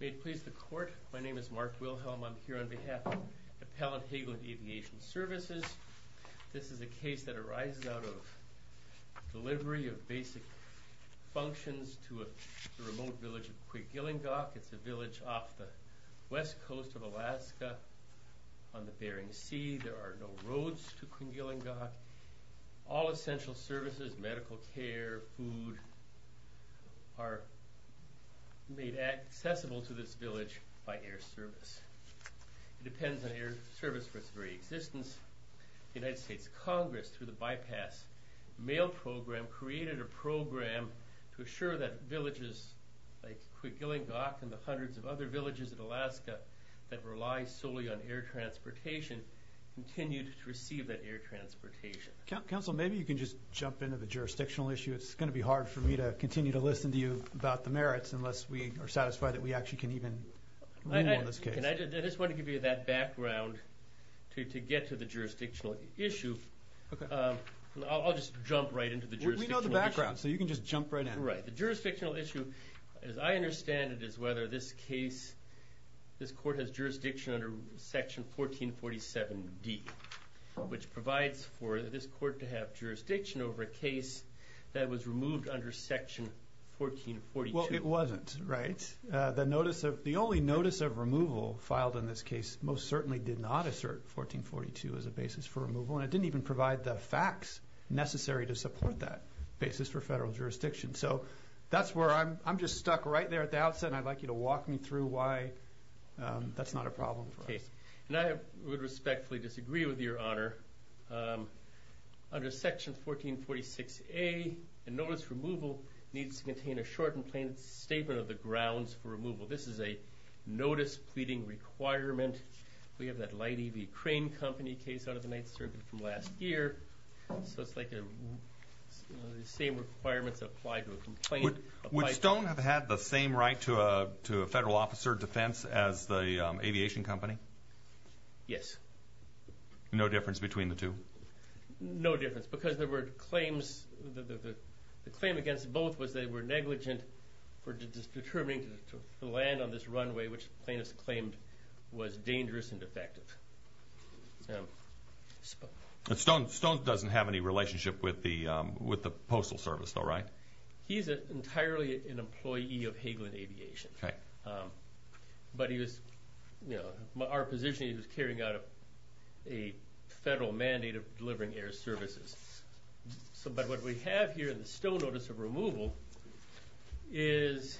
May it please the court, my name is Mark Wilhelm. I'm here on behalf of Appellant Hagelin Aviation Services. This is a case that arises out of delivery of basic functions to a remote village of Quigilingoc. It's a village off the west coast of Alaska on the Bering Sea. There are no roads to Quigilingoc. All essential services, medical care, food, are made accessible to this village by air service. It depends on air service for its very existence. The United States Congress, through the Bypass Mail Program, created a program to assure that villages like Quigilingoc and the hundreds of other villages in Alaska that rely solely on air transportation continued to receive that air service. If I can just jump into the jurisdictional issue, it's going to be hard for me to continue to listen to you about the merits unless we are satisfied that we actually can even rule on this case. I just want to give you that background to get to the jurisdictional issue. I'll just jump right into the jurisdictional issue. We know the background, so you can just jump right in. Right. The jurisdictional issue, as I understand it, is whether this case, this court has jurisdiction under Section 1447D, which provides for this court to have jurisdiction over a case that was removed under Section 1442. Well, it wasn't, right? The only notice of removal filed in this case most certainly did not assert 1442 as a basis for removal, and it didn't even provide the facts necessary to support that basis for federal jurisdiction. So that's where I'm just stuck right there at the outset, and I'd like you to walk me through why that's not a problem for us. I would respectfully disagree with your honor. Under Section 1446A, a notice for removal needs to contain a short and plain statement of the grounds for removal. This is a notice pleading requirement. We have that light EV crane company case out of the Ninth Circuit from last year, so it's like the same requirements apply to a complaint. Would Stone have had the same right to a federal officer defense as the aviation company? Yes. No difference between the two? No difference, because the claim against both was they were negligent for determining the land on this runway, which plaintiffs claimed was dangerous and defective. Stone doesn't have any relationship with the Postal Service, though, right? He's entirely an employee of Hagelin Aviation, but our position is he was carrying out a federal mandate of delivering air services. But what we have here in the Stone notice of removal is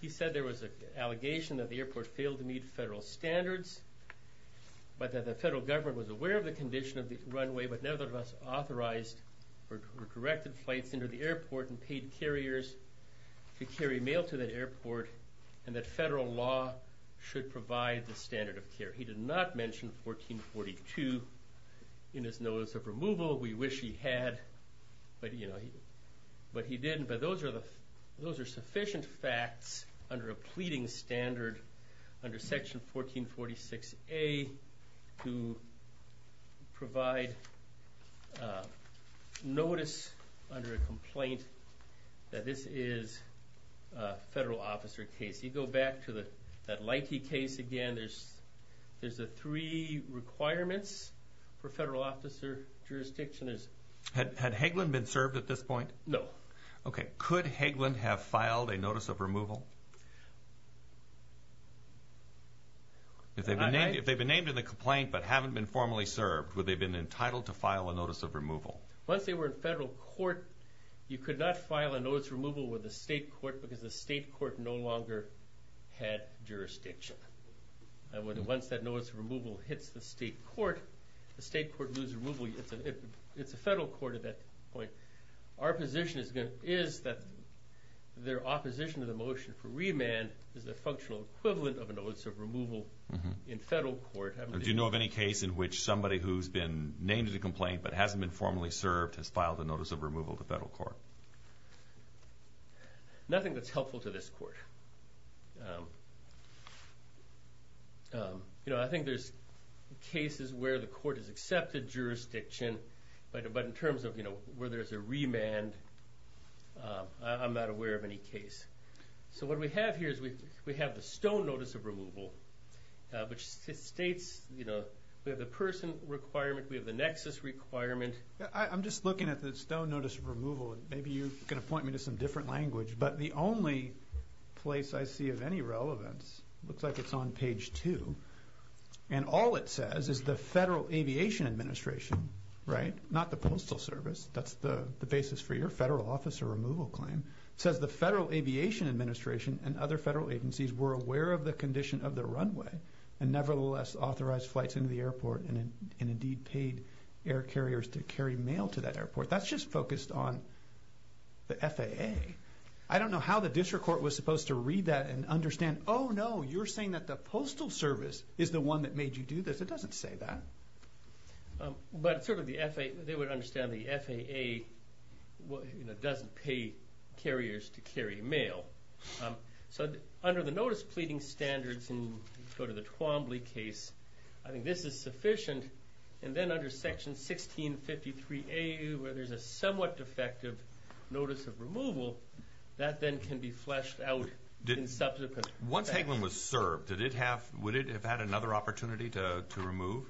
he said there was an allegation that the airport failed to meet federal standards, but that the federal government was aware of the condition of the runway, but nevertheless authorized or directed flights into the airport and paid carriers to carry mail to that airport, and that federal law should provide the standard of care. He did not mention 1442 in his notice of removal. We wish he had, but he didn't. But those are sufficient facts under a pleading standard under Section 1446A to provide notice under a complaint that this is a federal officer case. You go back to that Leike case again, there's the three requirements for federal officer jurisdiction. Had Hagelin been served at this point? No. Okay, could Hagelin have filed a notice of removal? If they've been named in the complaint but haven't been formally served, would they have been entitled to file a notice of removal? Once they were in federal court, you could not file a notice of removal with the state court because the state court no longer had jurisdiction. Once that notice of removal hits the state court, the state court loses removal. It's a federal court at that point. Our position is that their opposition to the motion for remand is the functional equivalent of a notice of removal in federal court. Do you know of any case in which somebody who's been named in the complaint but hasn't been formally served has filed a notice of removal to federal court? No. Nothing that's helpful to this court. I think there's cases where the court has accepted jurisdiction, but in terms of where there's a remand, I'm not aware of any case. What we have here is we have the stone notice of removal, which states we have the person requirement, we have the nexus requirement. I'm just looking at the stone notice of removal. Maybe you're going to point me to some different language. But the only place I see of any relevance looks like it's on page two. And all it says is the Federal Aviation Administration, right? Not the Postal Service. That's the basis for your federal officer removal claim. It says the Federal Aviation Administration and other federal agencies were aware of the condition of the runway and nevertheless authorized flights into the airport and indeed paid air carriers to carry mail to that airport. That's just focused on the FAA. I don't know how the district court was supposed to read that and understand, oh, no, you're saying that the Postal Service is the one that made you do this. It doesn't say that. But they would understand the FAA doesn't pay carriers to carry mail. So under the notice pleading standards in the Twombly case, I think this is sufficient. And then under Section 1653A, where there's a somewhat defective notice of removal, that then can be fleshed out in subsequent. Once Hagelin was served, would it have had another opportunity to remove?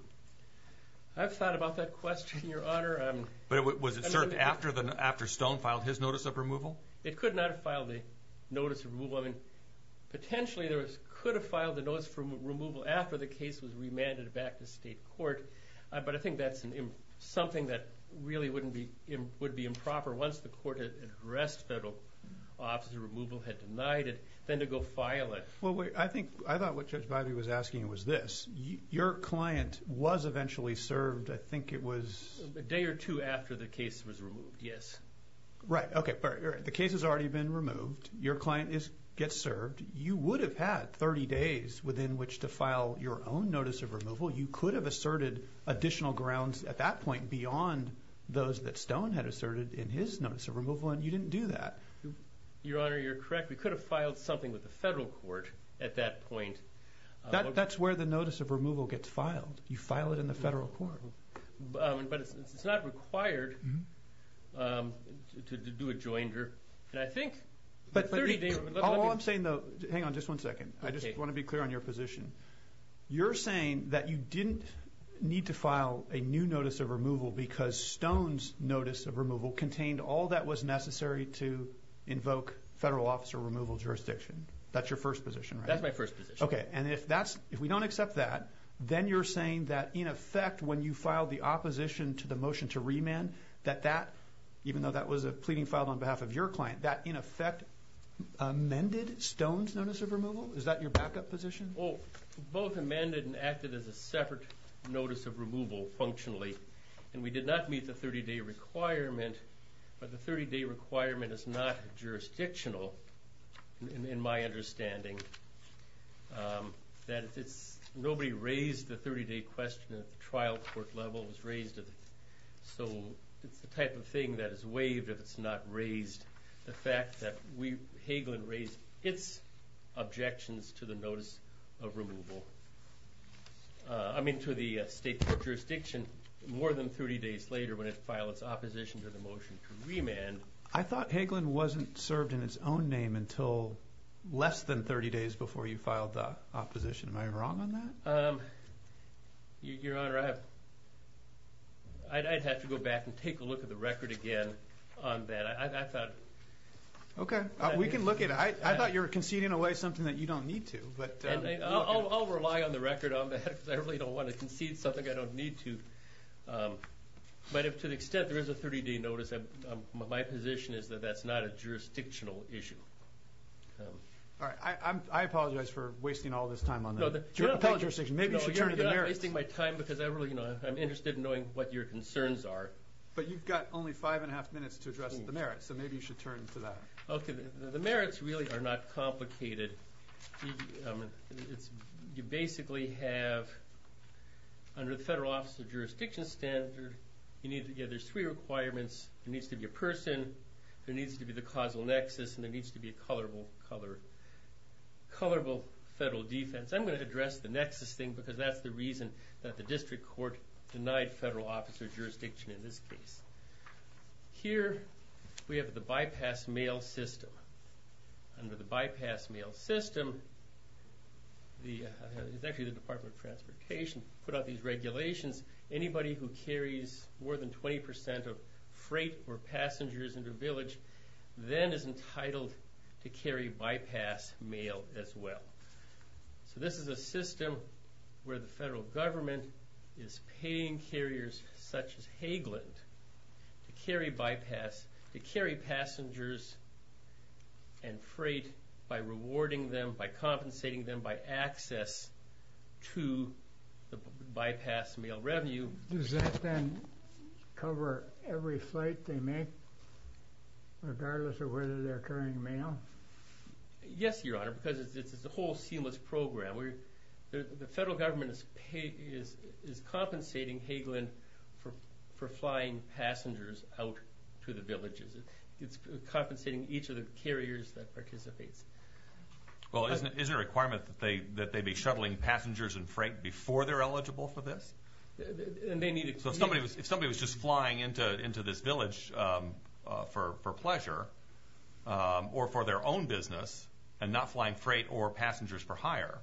I've thought about that question, Your Honor. But was it served after Stone filed his notice of removal? It could not have filed the notice of removal. I mean, potentially it could have filed the notice of removal after the case was remanded back to state court. But I think that's something that really would be improper once the court had addressed federal officer removal, had denied it, then to go file it. Well, I think I thought what Judge Biby was asking was this. Your client was eventually served, I think it was? A day or two after the case was removed, yes. Right, okay. The case has already been removed. Your client gets served. You would have had 30 days within which to file your own notice of removal. You could have asserted additional grounds at that point beyond those that Stone had asserted in his notice of removal, and you didn't do that. Your Honor, you're correct. We could have filed something with the federal court at that point. That's where the notice of removal gets filed. You file it in the federal court. But it's not required to do a joinder. And I think 30 days would look like it. All I'm saying, though, hang on just one second. I just want to be clear on your position. You're saying that you didn't need to file a new notice of removal because Stone's notice of removal contained all that was necessary to invoke federal officer removal jurisdiction. That's your first position, right? That's my first position. Okay, and if we don't accept that, then you're saying that, in effect, when you filed the opposition to the motion to remand, that that, even though that was a pleading filed on behalf of your client, that, in effect, amended Stone's notice of removal? Is that your backup position? Well, both amended and acted as a separate notice of removal functionally, and we did not meet the 30-day requirement. But the 30-day requirement is not jurisdictional in my understanding. Nobody raised the 30-day question at the trial court level. So it's the type of thing that is waived if it's not raised, the fact that Hagelin raised its objections to the notice of removal. I mean, to the state court jurisdiction, more than 30 days later, when it filed its opposition to the motion to remand. I thought Hagelin wasn't served in its own name until less than 30 days before you filed the opposition. Am I wrong on that? Your Honor, I'd have to go back and take a look at the record again on that. I thought— Okay, we can look at it. I thought you were conceding away something that you don't need to. I'll rely on the record on that because I really don't want to concede something I don't need to. But to the extent there is a 30-day notice, my position is that that's not a jurisdictional issue. All right. I apologize for wasting all this time on the appellate jurisdiction. Maybe you should turn to the merits. No, you're not wasting my time because I'm interested in knowing what your concerns are. But you've got only five and a half minutes to address the merits, so maybe you should turn to that. Okay. The merits really are not complicated. You basically have, under the federal officer jurisdiction standard, there's three requirements. There needs to be a person, there needs to be the causal nexus, and there needs to be a colorable federal defense. I'm going to address the nexus thing because that's the reason that the district court denied federal officer jurisdiction in this case. Here we have the bypass mail system. Under the bypass mail system, the Department of Transportation put out these regulations. Anybody who carries more than 20% of freight or passengers into a village then is entitled to carry bypass mail as well. So this is a system where the federal government is paying carriers such as Hageland to carry bypass, to carry passengers and freight by rewarding them, by compensating them, by access to the bypass mail revenue. Does that then cover every flight they make, regardless of whether they're carrying mail? Yes, Your Honor, because it's a whole seamless program. The federal government is compensating Hageland for flying passengers out to the villages. It's compensating each of the carriers that participates. Well, isn't it a requirement that they be shuttling passengers and freight before they're eligible for this? If somebody was just flying into this village for pleasure or for their own business and not flying freight or passengers for hire,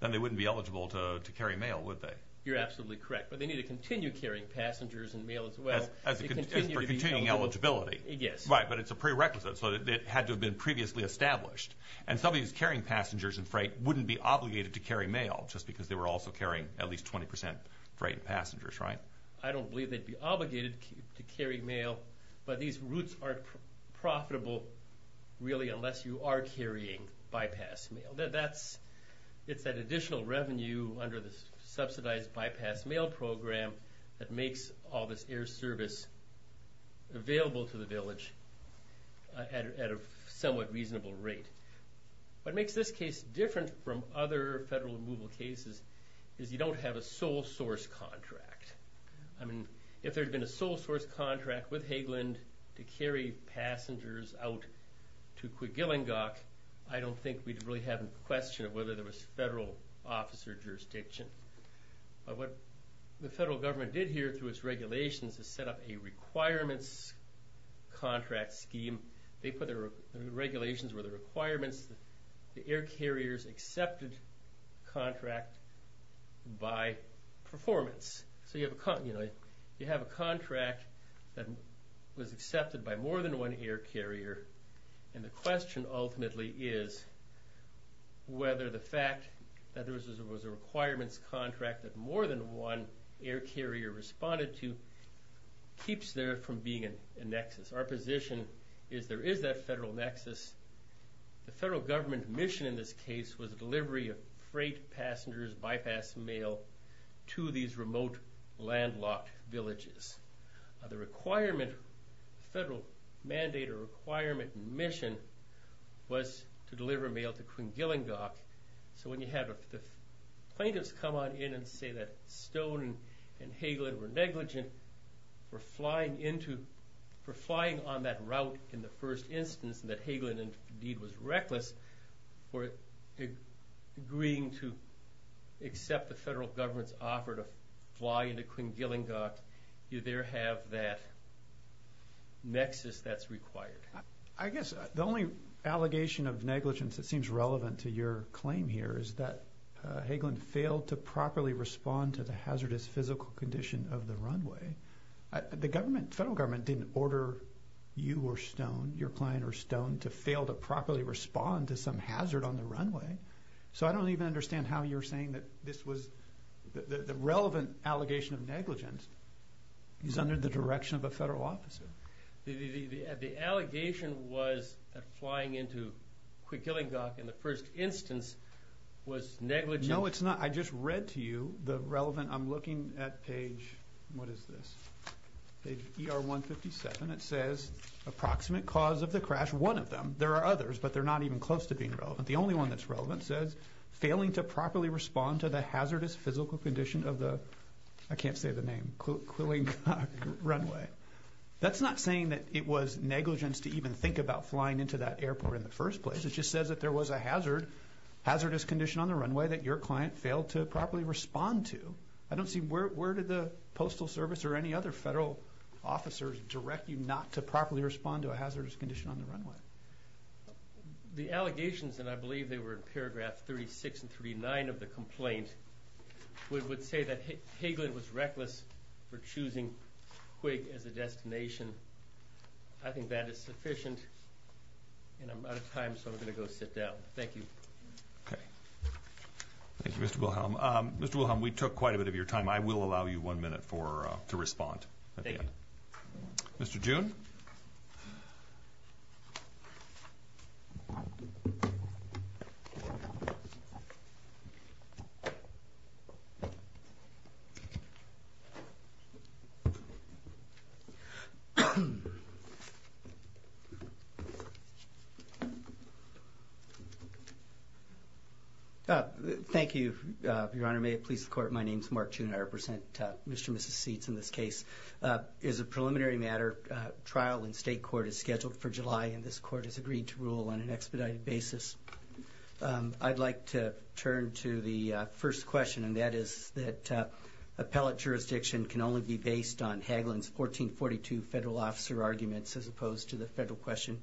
then they wouldn't be eligible to carry mail, would they? You're absolutely correct, but they need to continue carrying passengers and mail as well. As for continuing eligibility. Yes. Right, but it's a prerequisite, so it had to have been previously established. And somebody who's carrying passengers and freight wouldn't be obligated to carry mail, just because they were also carrying at least 20 percent freight and passengers, right? I don't believe they'd be obligated to carry mail, but these routes aren't profitable really unless you are carrying bypass mail. It's that additional revenue under the subsidized bypass mail program that makes all this air service available to the village at a somewhat reasonable rate. What makes this case different from other federal removal cases is you don't have a sole source contract. I mean, if there had been a sole source contract with Hageland to carry passengers out to Quiglengock, I don't think we'd really have a question of whether there was federal officer jurisdiction. What the federal government did here through its regulations is set up a requirements contract scheme. The regulations were the requirements that the air carriers accepted contract by performance. So you have a contract that was accepted by more than one air carrier, and the question ultimately is whether the fact that there was a requirements contract that more than one air carrier responded to keeps there from being a nexus. Our position is there is that federal nexus. The federal government mission in this case was delivery of freight passengers, bypass mail, to these remote landlocked villages. The federal mandate or requirement mission was to deliver mail to Quiglengock, so when you have the plaintiffs come on in and say that Stone and Hageland were negligent for flying on that route in the first instance and that Hageland indeed was reckless for agreeing to accept the federal government's offer to fly into Quiglengock, you there have that nexus that's required. I guess the only allegation of negligence that seems relevant to your claim here is that Hageland failed to properly respond to the hazardous physical condition of the runway. The federal government didn't order you or Stone, your client or Stone, to fail to properly respond to some hazard on the runway, so I don't even understand how you're saying that this was the relevant allegation of negligence is under the direction of a federal officer. The allegation was that flying into Quiglengock in the first instance was negligent. No, it's not. I just read to you the relevant. I'm looking at page, what is this? Page ER-157. It says approximate cause of the crash, one of them. There are others, but they're not even close to being relevant. The only one that's relevant says failing to properly respond to the hazardous physical condition of the, I can't say the name, Quiglengock runway. That's not saying that it was negligence to even think about flying into that airport in the first place. It just says that there was a hazardous condition on the runway that your client failed to properly respond to. I don't see where did the Postal Service or any other federal officers direct you not to properly respond to a hazardous condition on the runway. The allegations, and I believe they were in paragraph 36 and 39 of the complaint, would say that Hagelin was reckless for choosing Quig as a destination. I think that is sufficient, and I'm out of time, so I'm going to go sit down. Thank you. Okay. Thank you, Mr. Wilhelm. Mr. Wilhelm, we took quite a bit of your time. I will allow you one minute to respond. Mr. June? Thank you, Your Honor. May it please the Court, my name is Mark June. I represent Mr. and Mrs. Seitz in this case. As a preliminary matter, trial in state court is scheduled for July, and this court has agreed to rule on an expedited basis. I'd like to turn to the first question, and that is that appellate jurisdiction can only be based on Hagelin's 1442 federal officer arguments as opposed to the federal question.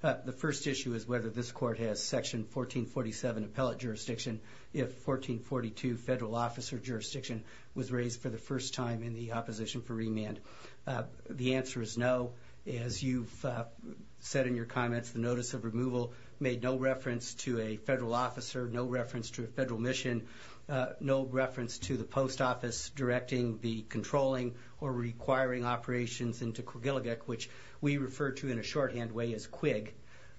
The first issue is whether this court has Section 1447 appellate jurisdiction if 1442 federal officer jurisdiction was raised for the first time in the opposition for remand. The answer is no. As you've said in your comments, the notice of removal made no reference to a federal officer, no reference to a federal mission, no reference to the post office directing the controlling or requiring operations into Quiglegic, which we refer to in a shorthand way as Quig.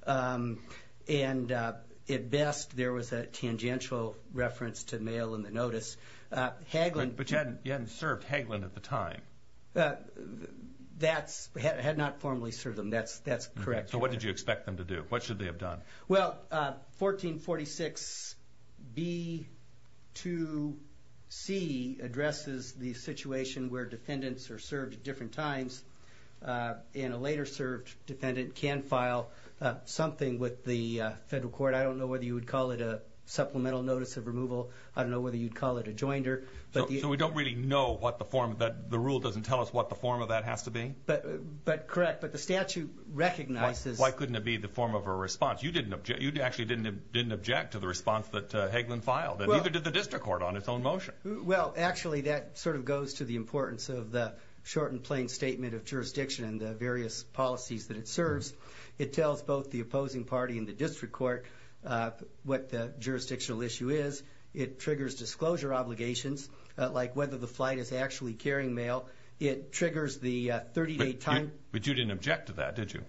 And at best, there was a tangential reference to mail in the notice. But you hadn't served Hagelin at the time. That's correct. So what did you expect them to do? What should they have done? Well, 1446B2C addresses the situation where defendants are served at different times, and a later served defendant can file something with the federal court. I don't know whether you would call it a supplemental notice of removal. I don't know whether you'd call it a joinder. So we don't really know what the form of that rule doesn't tell us what the form of that has to be? Correct, but the statute recognizes it. Why couldn't it be the form of a response? You actually didn't object to the response that Hagelin filed, and neither did the district court on its own motion. Well, actually, that sort of goes to the importance of the short and plain statement of jurisdiction and the various policies that it serves. It tells both the opposing party and the district court what the jurisdictional issue is. It triggers disclosure obligations, like whether the flight is actually carrying mail. It triggers the 30-day time. But you didn't object to that, did you?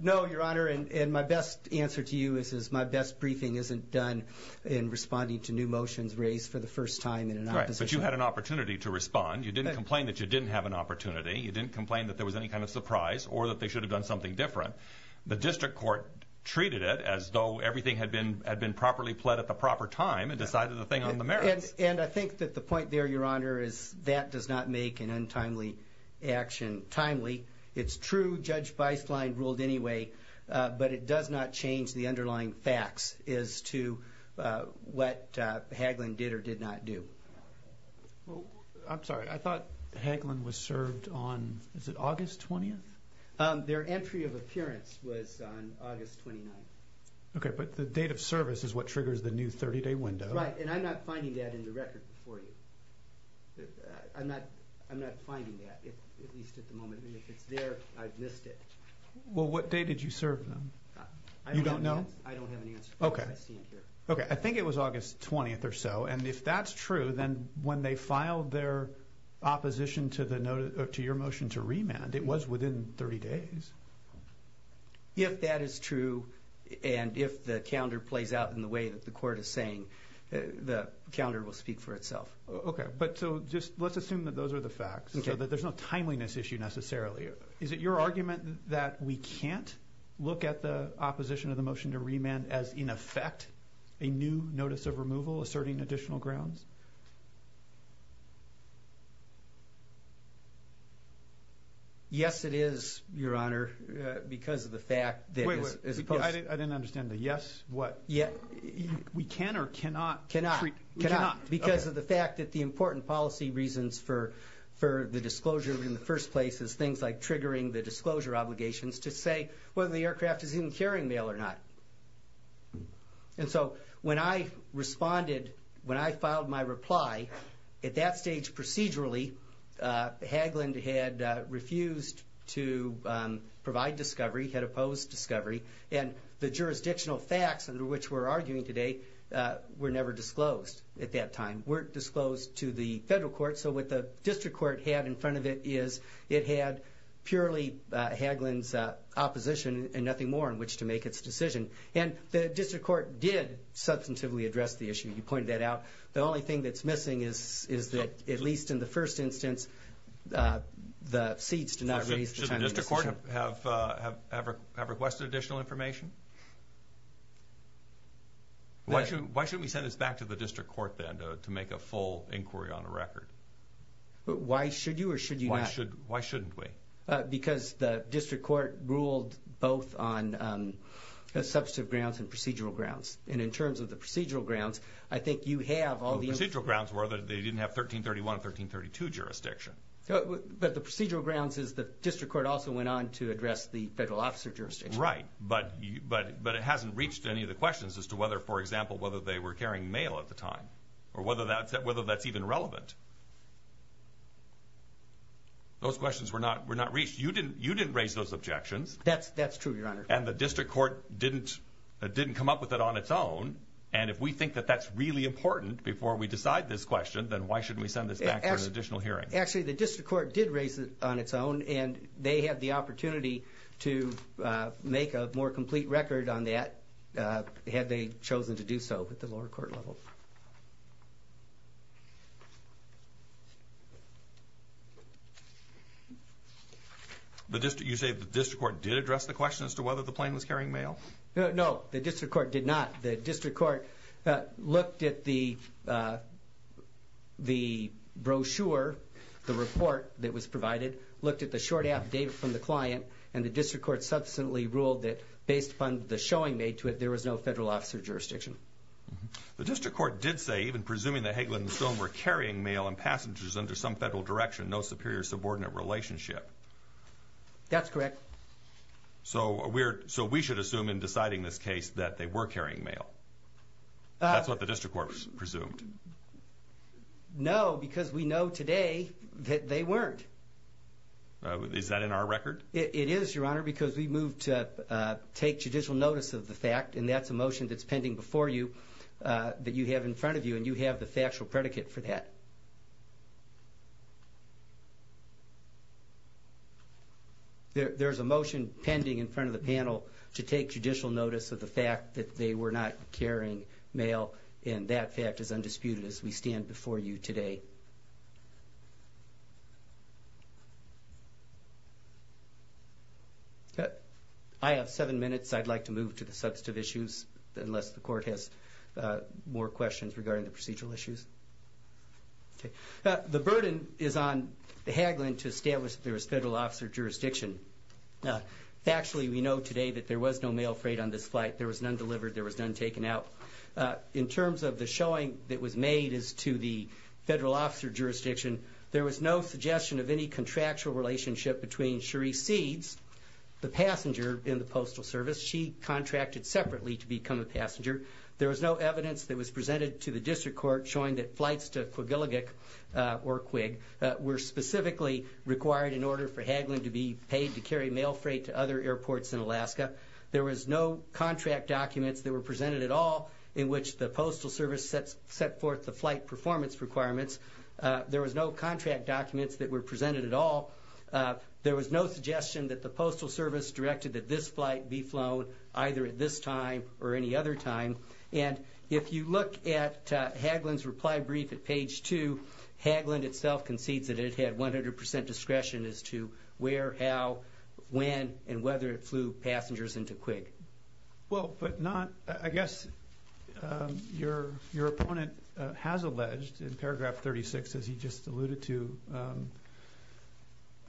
No, Your Honor, and my best answer to you is my best briefing isn't done in responding to new motions raised for the first time in an opposition. Right, but you had an opportunity to respond. You didn't complain that you didn't have an opportunity. You didn't complain that there was any kind of surprise or that they should have done something different. The district court treated it as though everything had been properly pled at the proper time and decided the thing on the merits. And I think that the point there, Your Honor, is that does not make an untimely action timely. It's true Judge Beistlein ruled anyway, but it does not change the underlying facts as to what Hagelin did or did not do. I'm sorry. I thought Hagelin was served on, is it August 20th? Their entry of appearance was on August 29th. Okay, but the date of service is what triggers the new 30-day window. Right, and I'm not finding that in the record before you. I'm not finding that, at least at the moment. And if it's there, I've missed it. Well, what date did you serve them? You don't know? I don't have an answer. Okay. I think it was August 20th or so. And if that's true, then when they filed their opposition to your motion to remand, it was within 30 days. If that is true and if the calendar plays out in the way that the court is saying, the calendar will speak for itself. Okay, but so just let's assume that those are the facts, so that there's no timeliness issue necessarily. Is it your argument that we can't look at the opposition of the motion to remand as, in effect, a new notice of removal asserting additional grounds? Yes, it is, Your Honor, because of the fact that it's supposed to. Wait, I didn't understand the yes, what? We can or cannot? Cannot. Cannot, because of the fact that the important policy reasons for the disclosure in the first place is things like triggering the disclosure obligations to say whether the aircraft is in carrying mail or not. And so when I responded, when I filed my reply, at that stage procedurally, Haglund had refused to provide discovery, had opposed discovery, and the jurisdictional facts under which we're arguing today were never disclosed at that time, weren't disclosed to the federal court. So what the district court had in front of it is it had purely Haglund's opposition and nothing more in which to make its decision. And the district court did substantively address the issue. He pointed that out. The only thing that's missing is that, at least in the first instance, the seats do not raise the timeliness issue. Does the district court have requested additional information? Why shouldn't we send this back to the district court then to make a full inquiry on a record? Why should you or should you not? Why shouldn't we? Because the district court ruled both on substantive grounds and procedural grounds. And in terms of the procedural grounds, I think you have all the information. Well, the procedural grounds were that they didn't have 1331 and 1332 jurisdiction. But the procedural grounds is the district court also went on to address the federal officer jurisdiction. Right. But it hasn't reached any of the questions as to whether, for example, whether they were carrying mail at the time or whether that's even relevant. Those questions were not reached. You didn't raise those objections. That's true, Your Honor. And the district court didn't come up with it on its own. And if we think that that's really important before we decide this question, then why shouldn't we send this back for an additional hearing? Actually, the district court did raise it on its own, and they had the opportunity to make a more complete record on that had they chosen to do so at the lower court level. You say the district court did address the question as to whether the plane was carrying mail? No, the district court did not. The district court looked at the brochure, the report that was provided, looked at the short affidavit from the client, and the district court subsequently ruled that based upon the showing made to it, there was no federal officer jurisdiction. The district court did say, even presuming that Hagelin and Stone were carrying mail and passengers under some federal direction, no superior subordinate relationship. That's correct. So we should assume in deciding this case that they were carrying mail. That's what the district court presumed. No, because we know today that they weren't. Is that in our record? It is, Your Honor, because we moved to take judicial notice of the fact, and that's a motion that's pending before you that you have in front of you, and you have the factual predicate for that. There's a motion pending in front of the panel to take judicial notice of the fact that they were not carrying mail, and that fact is undisputed as we stand before you today. I have seven minutes. I'd like to move to the substantive issues, unless the court has more questions regarding the procedural issues. Okay. The burden is on Hagelin to establish that there was federal officer jurisdiction. Factually, we know today that there was no mail freight on this flight. There was none delivered. There was none taken out. In terms of the showing that was made as to the federal officer jurisdiction, there was no suggestion of any contractual relationship between Cherie Seeds, the passenger in the Postal Service. She contracted separately to become a passenger. There was no evidence that was presented to the district court showing that flights to Quiglegic or Quig were specifically required in order for Hagelin to be paid to carry mail freight to other airports in Alaska. There was no contract documents that were presented at all in which the Postal Service set forth the flight performance requirements. There was no contract documents that were presented at all. There was no suggestion that the Postal Service directed that this flight be flown either at this time or any other time. And if you look at Hagelin's reply brief at page two, Hagelin itself concedes that it had 100 percent discretion as to where, how, when, and whether it flew passengers into Quig. Well, but not, I guess, your opponent has alleged in paragraph 36, as he just alluded to,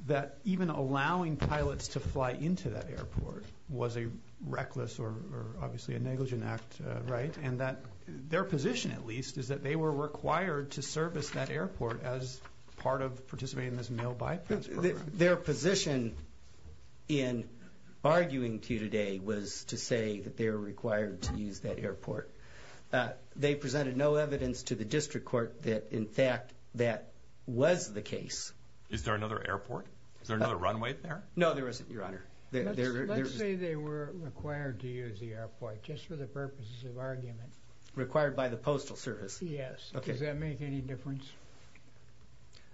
that even allowing pilots to fly into that airport was a reckless or obviously a negligent act, right? And that their position, at least, is that they were required to service that airport as part of participating in this mail bypass program. Their position in arguing to you today was to say that they were required to use that airport. They presented no evidence to the district court that, in fact, that was the case. Is there another airport? Is there another runway there? No, there isn't, your honor. Let's say they were required to use the airport just for the purposes of argument. Required by the Postal Service. Yes. Okay. Does that make any difference?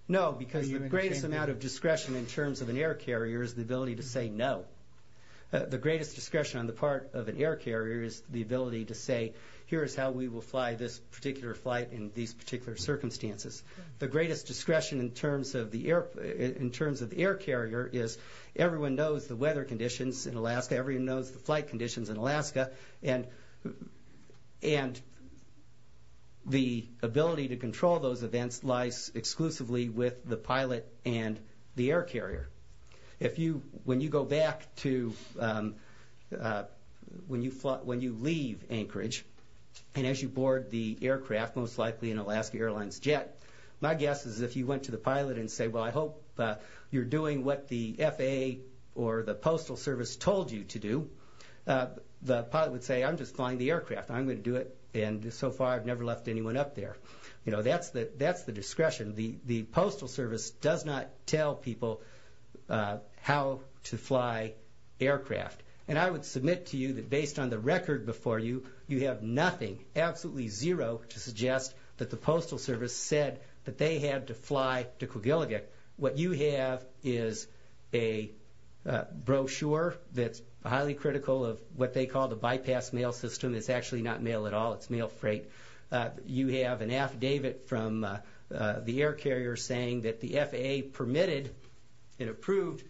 No, because the greatest amount of discretion in terms of an air carrier is the ability to say no. The greatest discretion on the part of an air carrier is the ability to say, here is how we will fly this particular flight in these particular circumstances. The greatest discretion in terms of the air carrier is everyone knows the weather conditions in Alaska, everyone knows the flight conditions in Alaska, and the ability to control those events lies exclusively with the pilot and the air carrier. When you go back to when you leave Anchorage and as you board the aircraft, most likely an Alaska Airlines jet, my guess is if you went to the pilot and say, well, I hope you're doing what the FAA or the Postal Service told you to do, the pilot would say, I'm just flying the aircraft, I'm going to do it, and so far I've never left anyone up there. You know, that's the discretion. The Postal Service does not tell people how to fly aircraft. And I would submit to you that based on the record before you, you have nothing, absolutely zero, to suggest that the Postal Service said that they had to fly to Quillegate. What you have is a brochure that's highly critical of what they call the bypass mail system. It's actually not mail at all. It's mail freight. You have an affidavit from the air carrier saying that the FAA permitted and approved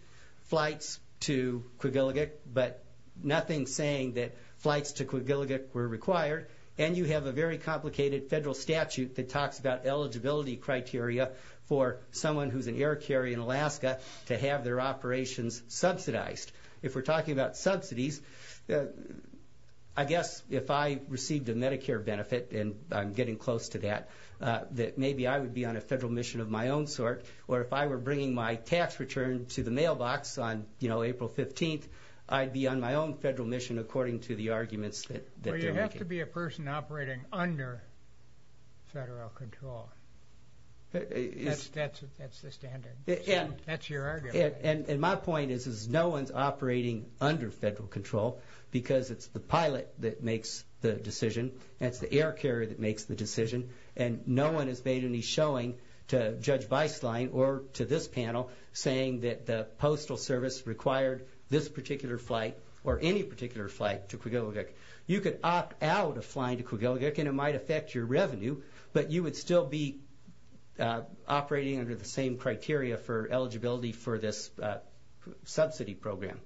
flights to Quillegate, but nothing saying that flights to Quillegate were required. And you have a very complicated federal statute that talks about eligibility criteria for someone who's an air carrier in Alaska to have their operations subsidized. If we're talking about subsidies, I guess if I received a Medicare benefit, and I'm getting close to that, that maybe I would be on a federal mission of my own sort, or if I were bringing my tax return to the mailbox on, you know, April 15th, I'd be on my own federal mission according to the arguments that they're making. Well, you have to be a person operating under federal control. That's the standard. That's your argument. And my point is no one's operating under federal control because it's the pilot that makes the decision, and it's the air carrier that makes the decision, and no one has made any showing to Judge Beislein or to this panel saying that the Postal Service required this particular flight or any particular flight to Quillegate. You could opt out of flying to Quillegate, and it might affect your revenue, but you would still be operating under the same criteria for eligibility for this subsidy program.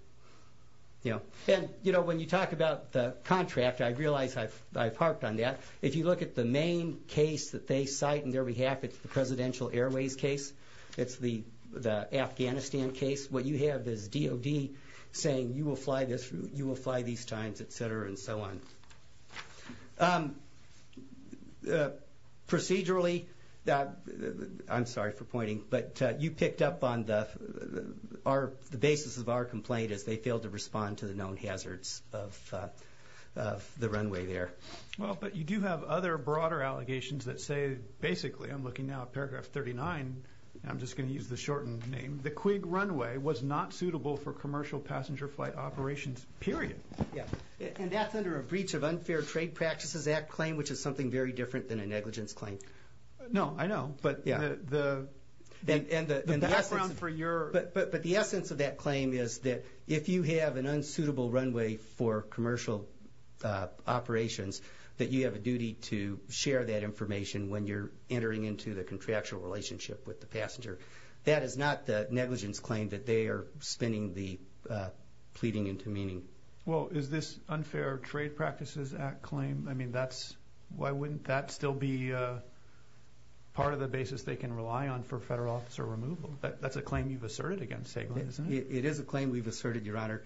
And, you know, when you talk about the contract, I realize I've harped on that. If you look at the main case that they cite on their behalf, it's the Presidential Airways case. It's the Afghanistan case. What you have is DOD saying you will fly these times, et cetera, and so on. Procedurally, I'm sorry for pointing, but you picked up on the basis of our complaint is they failed to respond to the known hazards of the runway there. Well, but you do have other broader allegations that say, basically, I'm looking now at paragraph 39, and I'm just going to use the shortened name, the Quig runway was not suitable for commercial passenger flight operations, period. Yeah, and that's under a Breach of Unfair Trade Practices Act claim, which is something very different than a negligence claim. No, I know, but the background for your— that you have a duty to share that information when you're entering into the contractual relationship with the passenger. That is not the negligence claim that they are spinning the pleading into meaning. Well, is this Unfair Trade Practices Act claim? I mean, that's—why wouldn't that still be part of the basis they can rely on for federal officer removal? That's a claim you've asserted against SAGLE, isn't it? It is a claim we've asserted, Your Honor.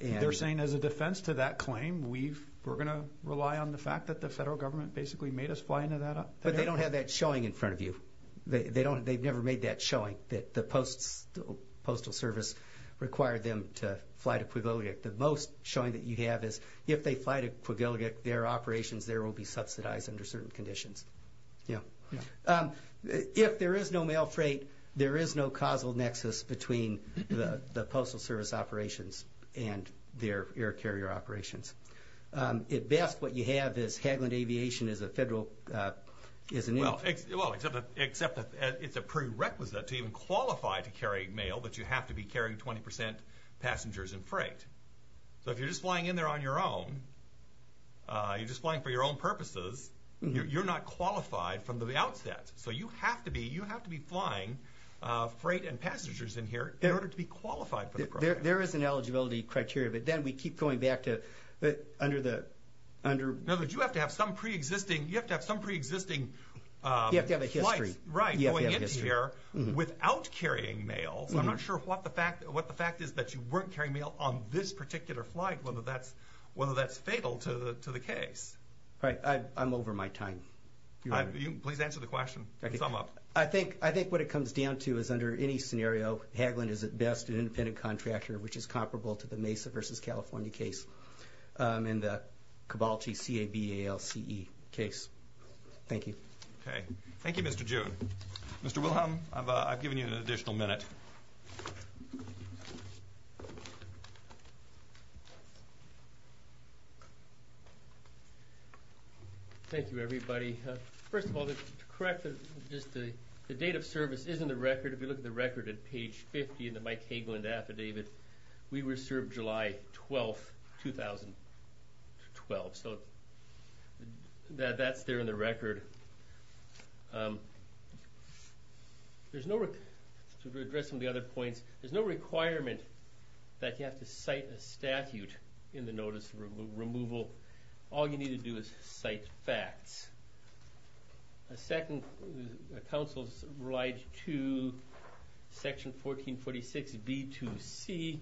They're saying as a defense to that claim, we're going to rely on the fact that the federal government basically made us fly into that area? But they don't have that showing in front of you. They've never made that showing, that the Postal Service required them to fly to Quigley. The most showing that you have is if they fly to Quigley, their operations there will be subsidized under certain conditions. Yeah. If there is no mail freight, there is no causal nexus between the Postal Service operations and their air carrier operations. At best, what you have is Haglund Aviation is a federal— Well, except that it's a prerequisite to even qualify to carry mail, that you have to be carrying 20 percent passengers in freight. So if you're just flying in there on your own, you're just flying for your own purposes, you're not qualified from the outset. So you have to be flying freight and passengers in here in order to be qualified for the program. There is an eligibility criteria, but then we keep going back to under the— No, but you have to have some preexisting—you have to have some preexisting flights. You have to have a history. Right, going in here without carrying mail. So I'm not sure what the fact is that you weren't carrying mail on this particular flight, whether that's fatal to the case. All right, I'm over my time. Please answer the question and sum up. I think what it comes down to is under any scenario, Haglund is at best an independent contractor, which is comparable to the Mesa v. California case and the Cabalchi C-A-B-A-L-C-E case. Thank you. Okay. Thank you, Mr. June. Mr. Wilhelm, I've given you an additional minute. Thank you, everybody. First of all, to correct, the date of service is in the record. If you look at the record at page 50 in the Mike Haglund affidavit, we were served July 12, 2012. So that's there in the record. There's no—to address some of the other points, there's no requirement that you have to cite a statute in the notice of removal. All you need to do is cite facts. A second counsel's right to section 1446B-2C,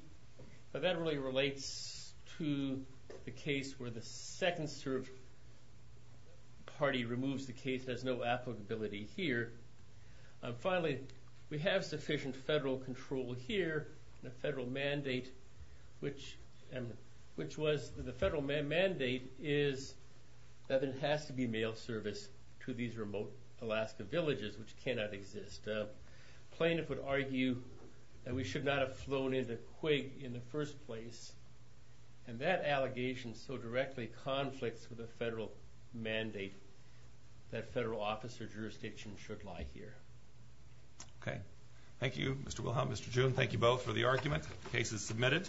but that really relates to the case where the second party removes the case. There's no applicability here. Finally, we have sufficient federal control here, and the federal mandate is that there has to be mail service to these remote Alaska villages, which cannot exist. A plaintiff would argue that we should not have flown into Quig in the first place, and that allegation so directly conflicts with a federal mandate that federal office or jurisdiction should lie here. Okay. Thank you, Mr. Wilhelm, Mr. June. Thank you both for the argument. The case is submitted.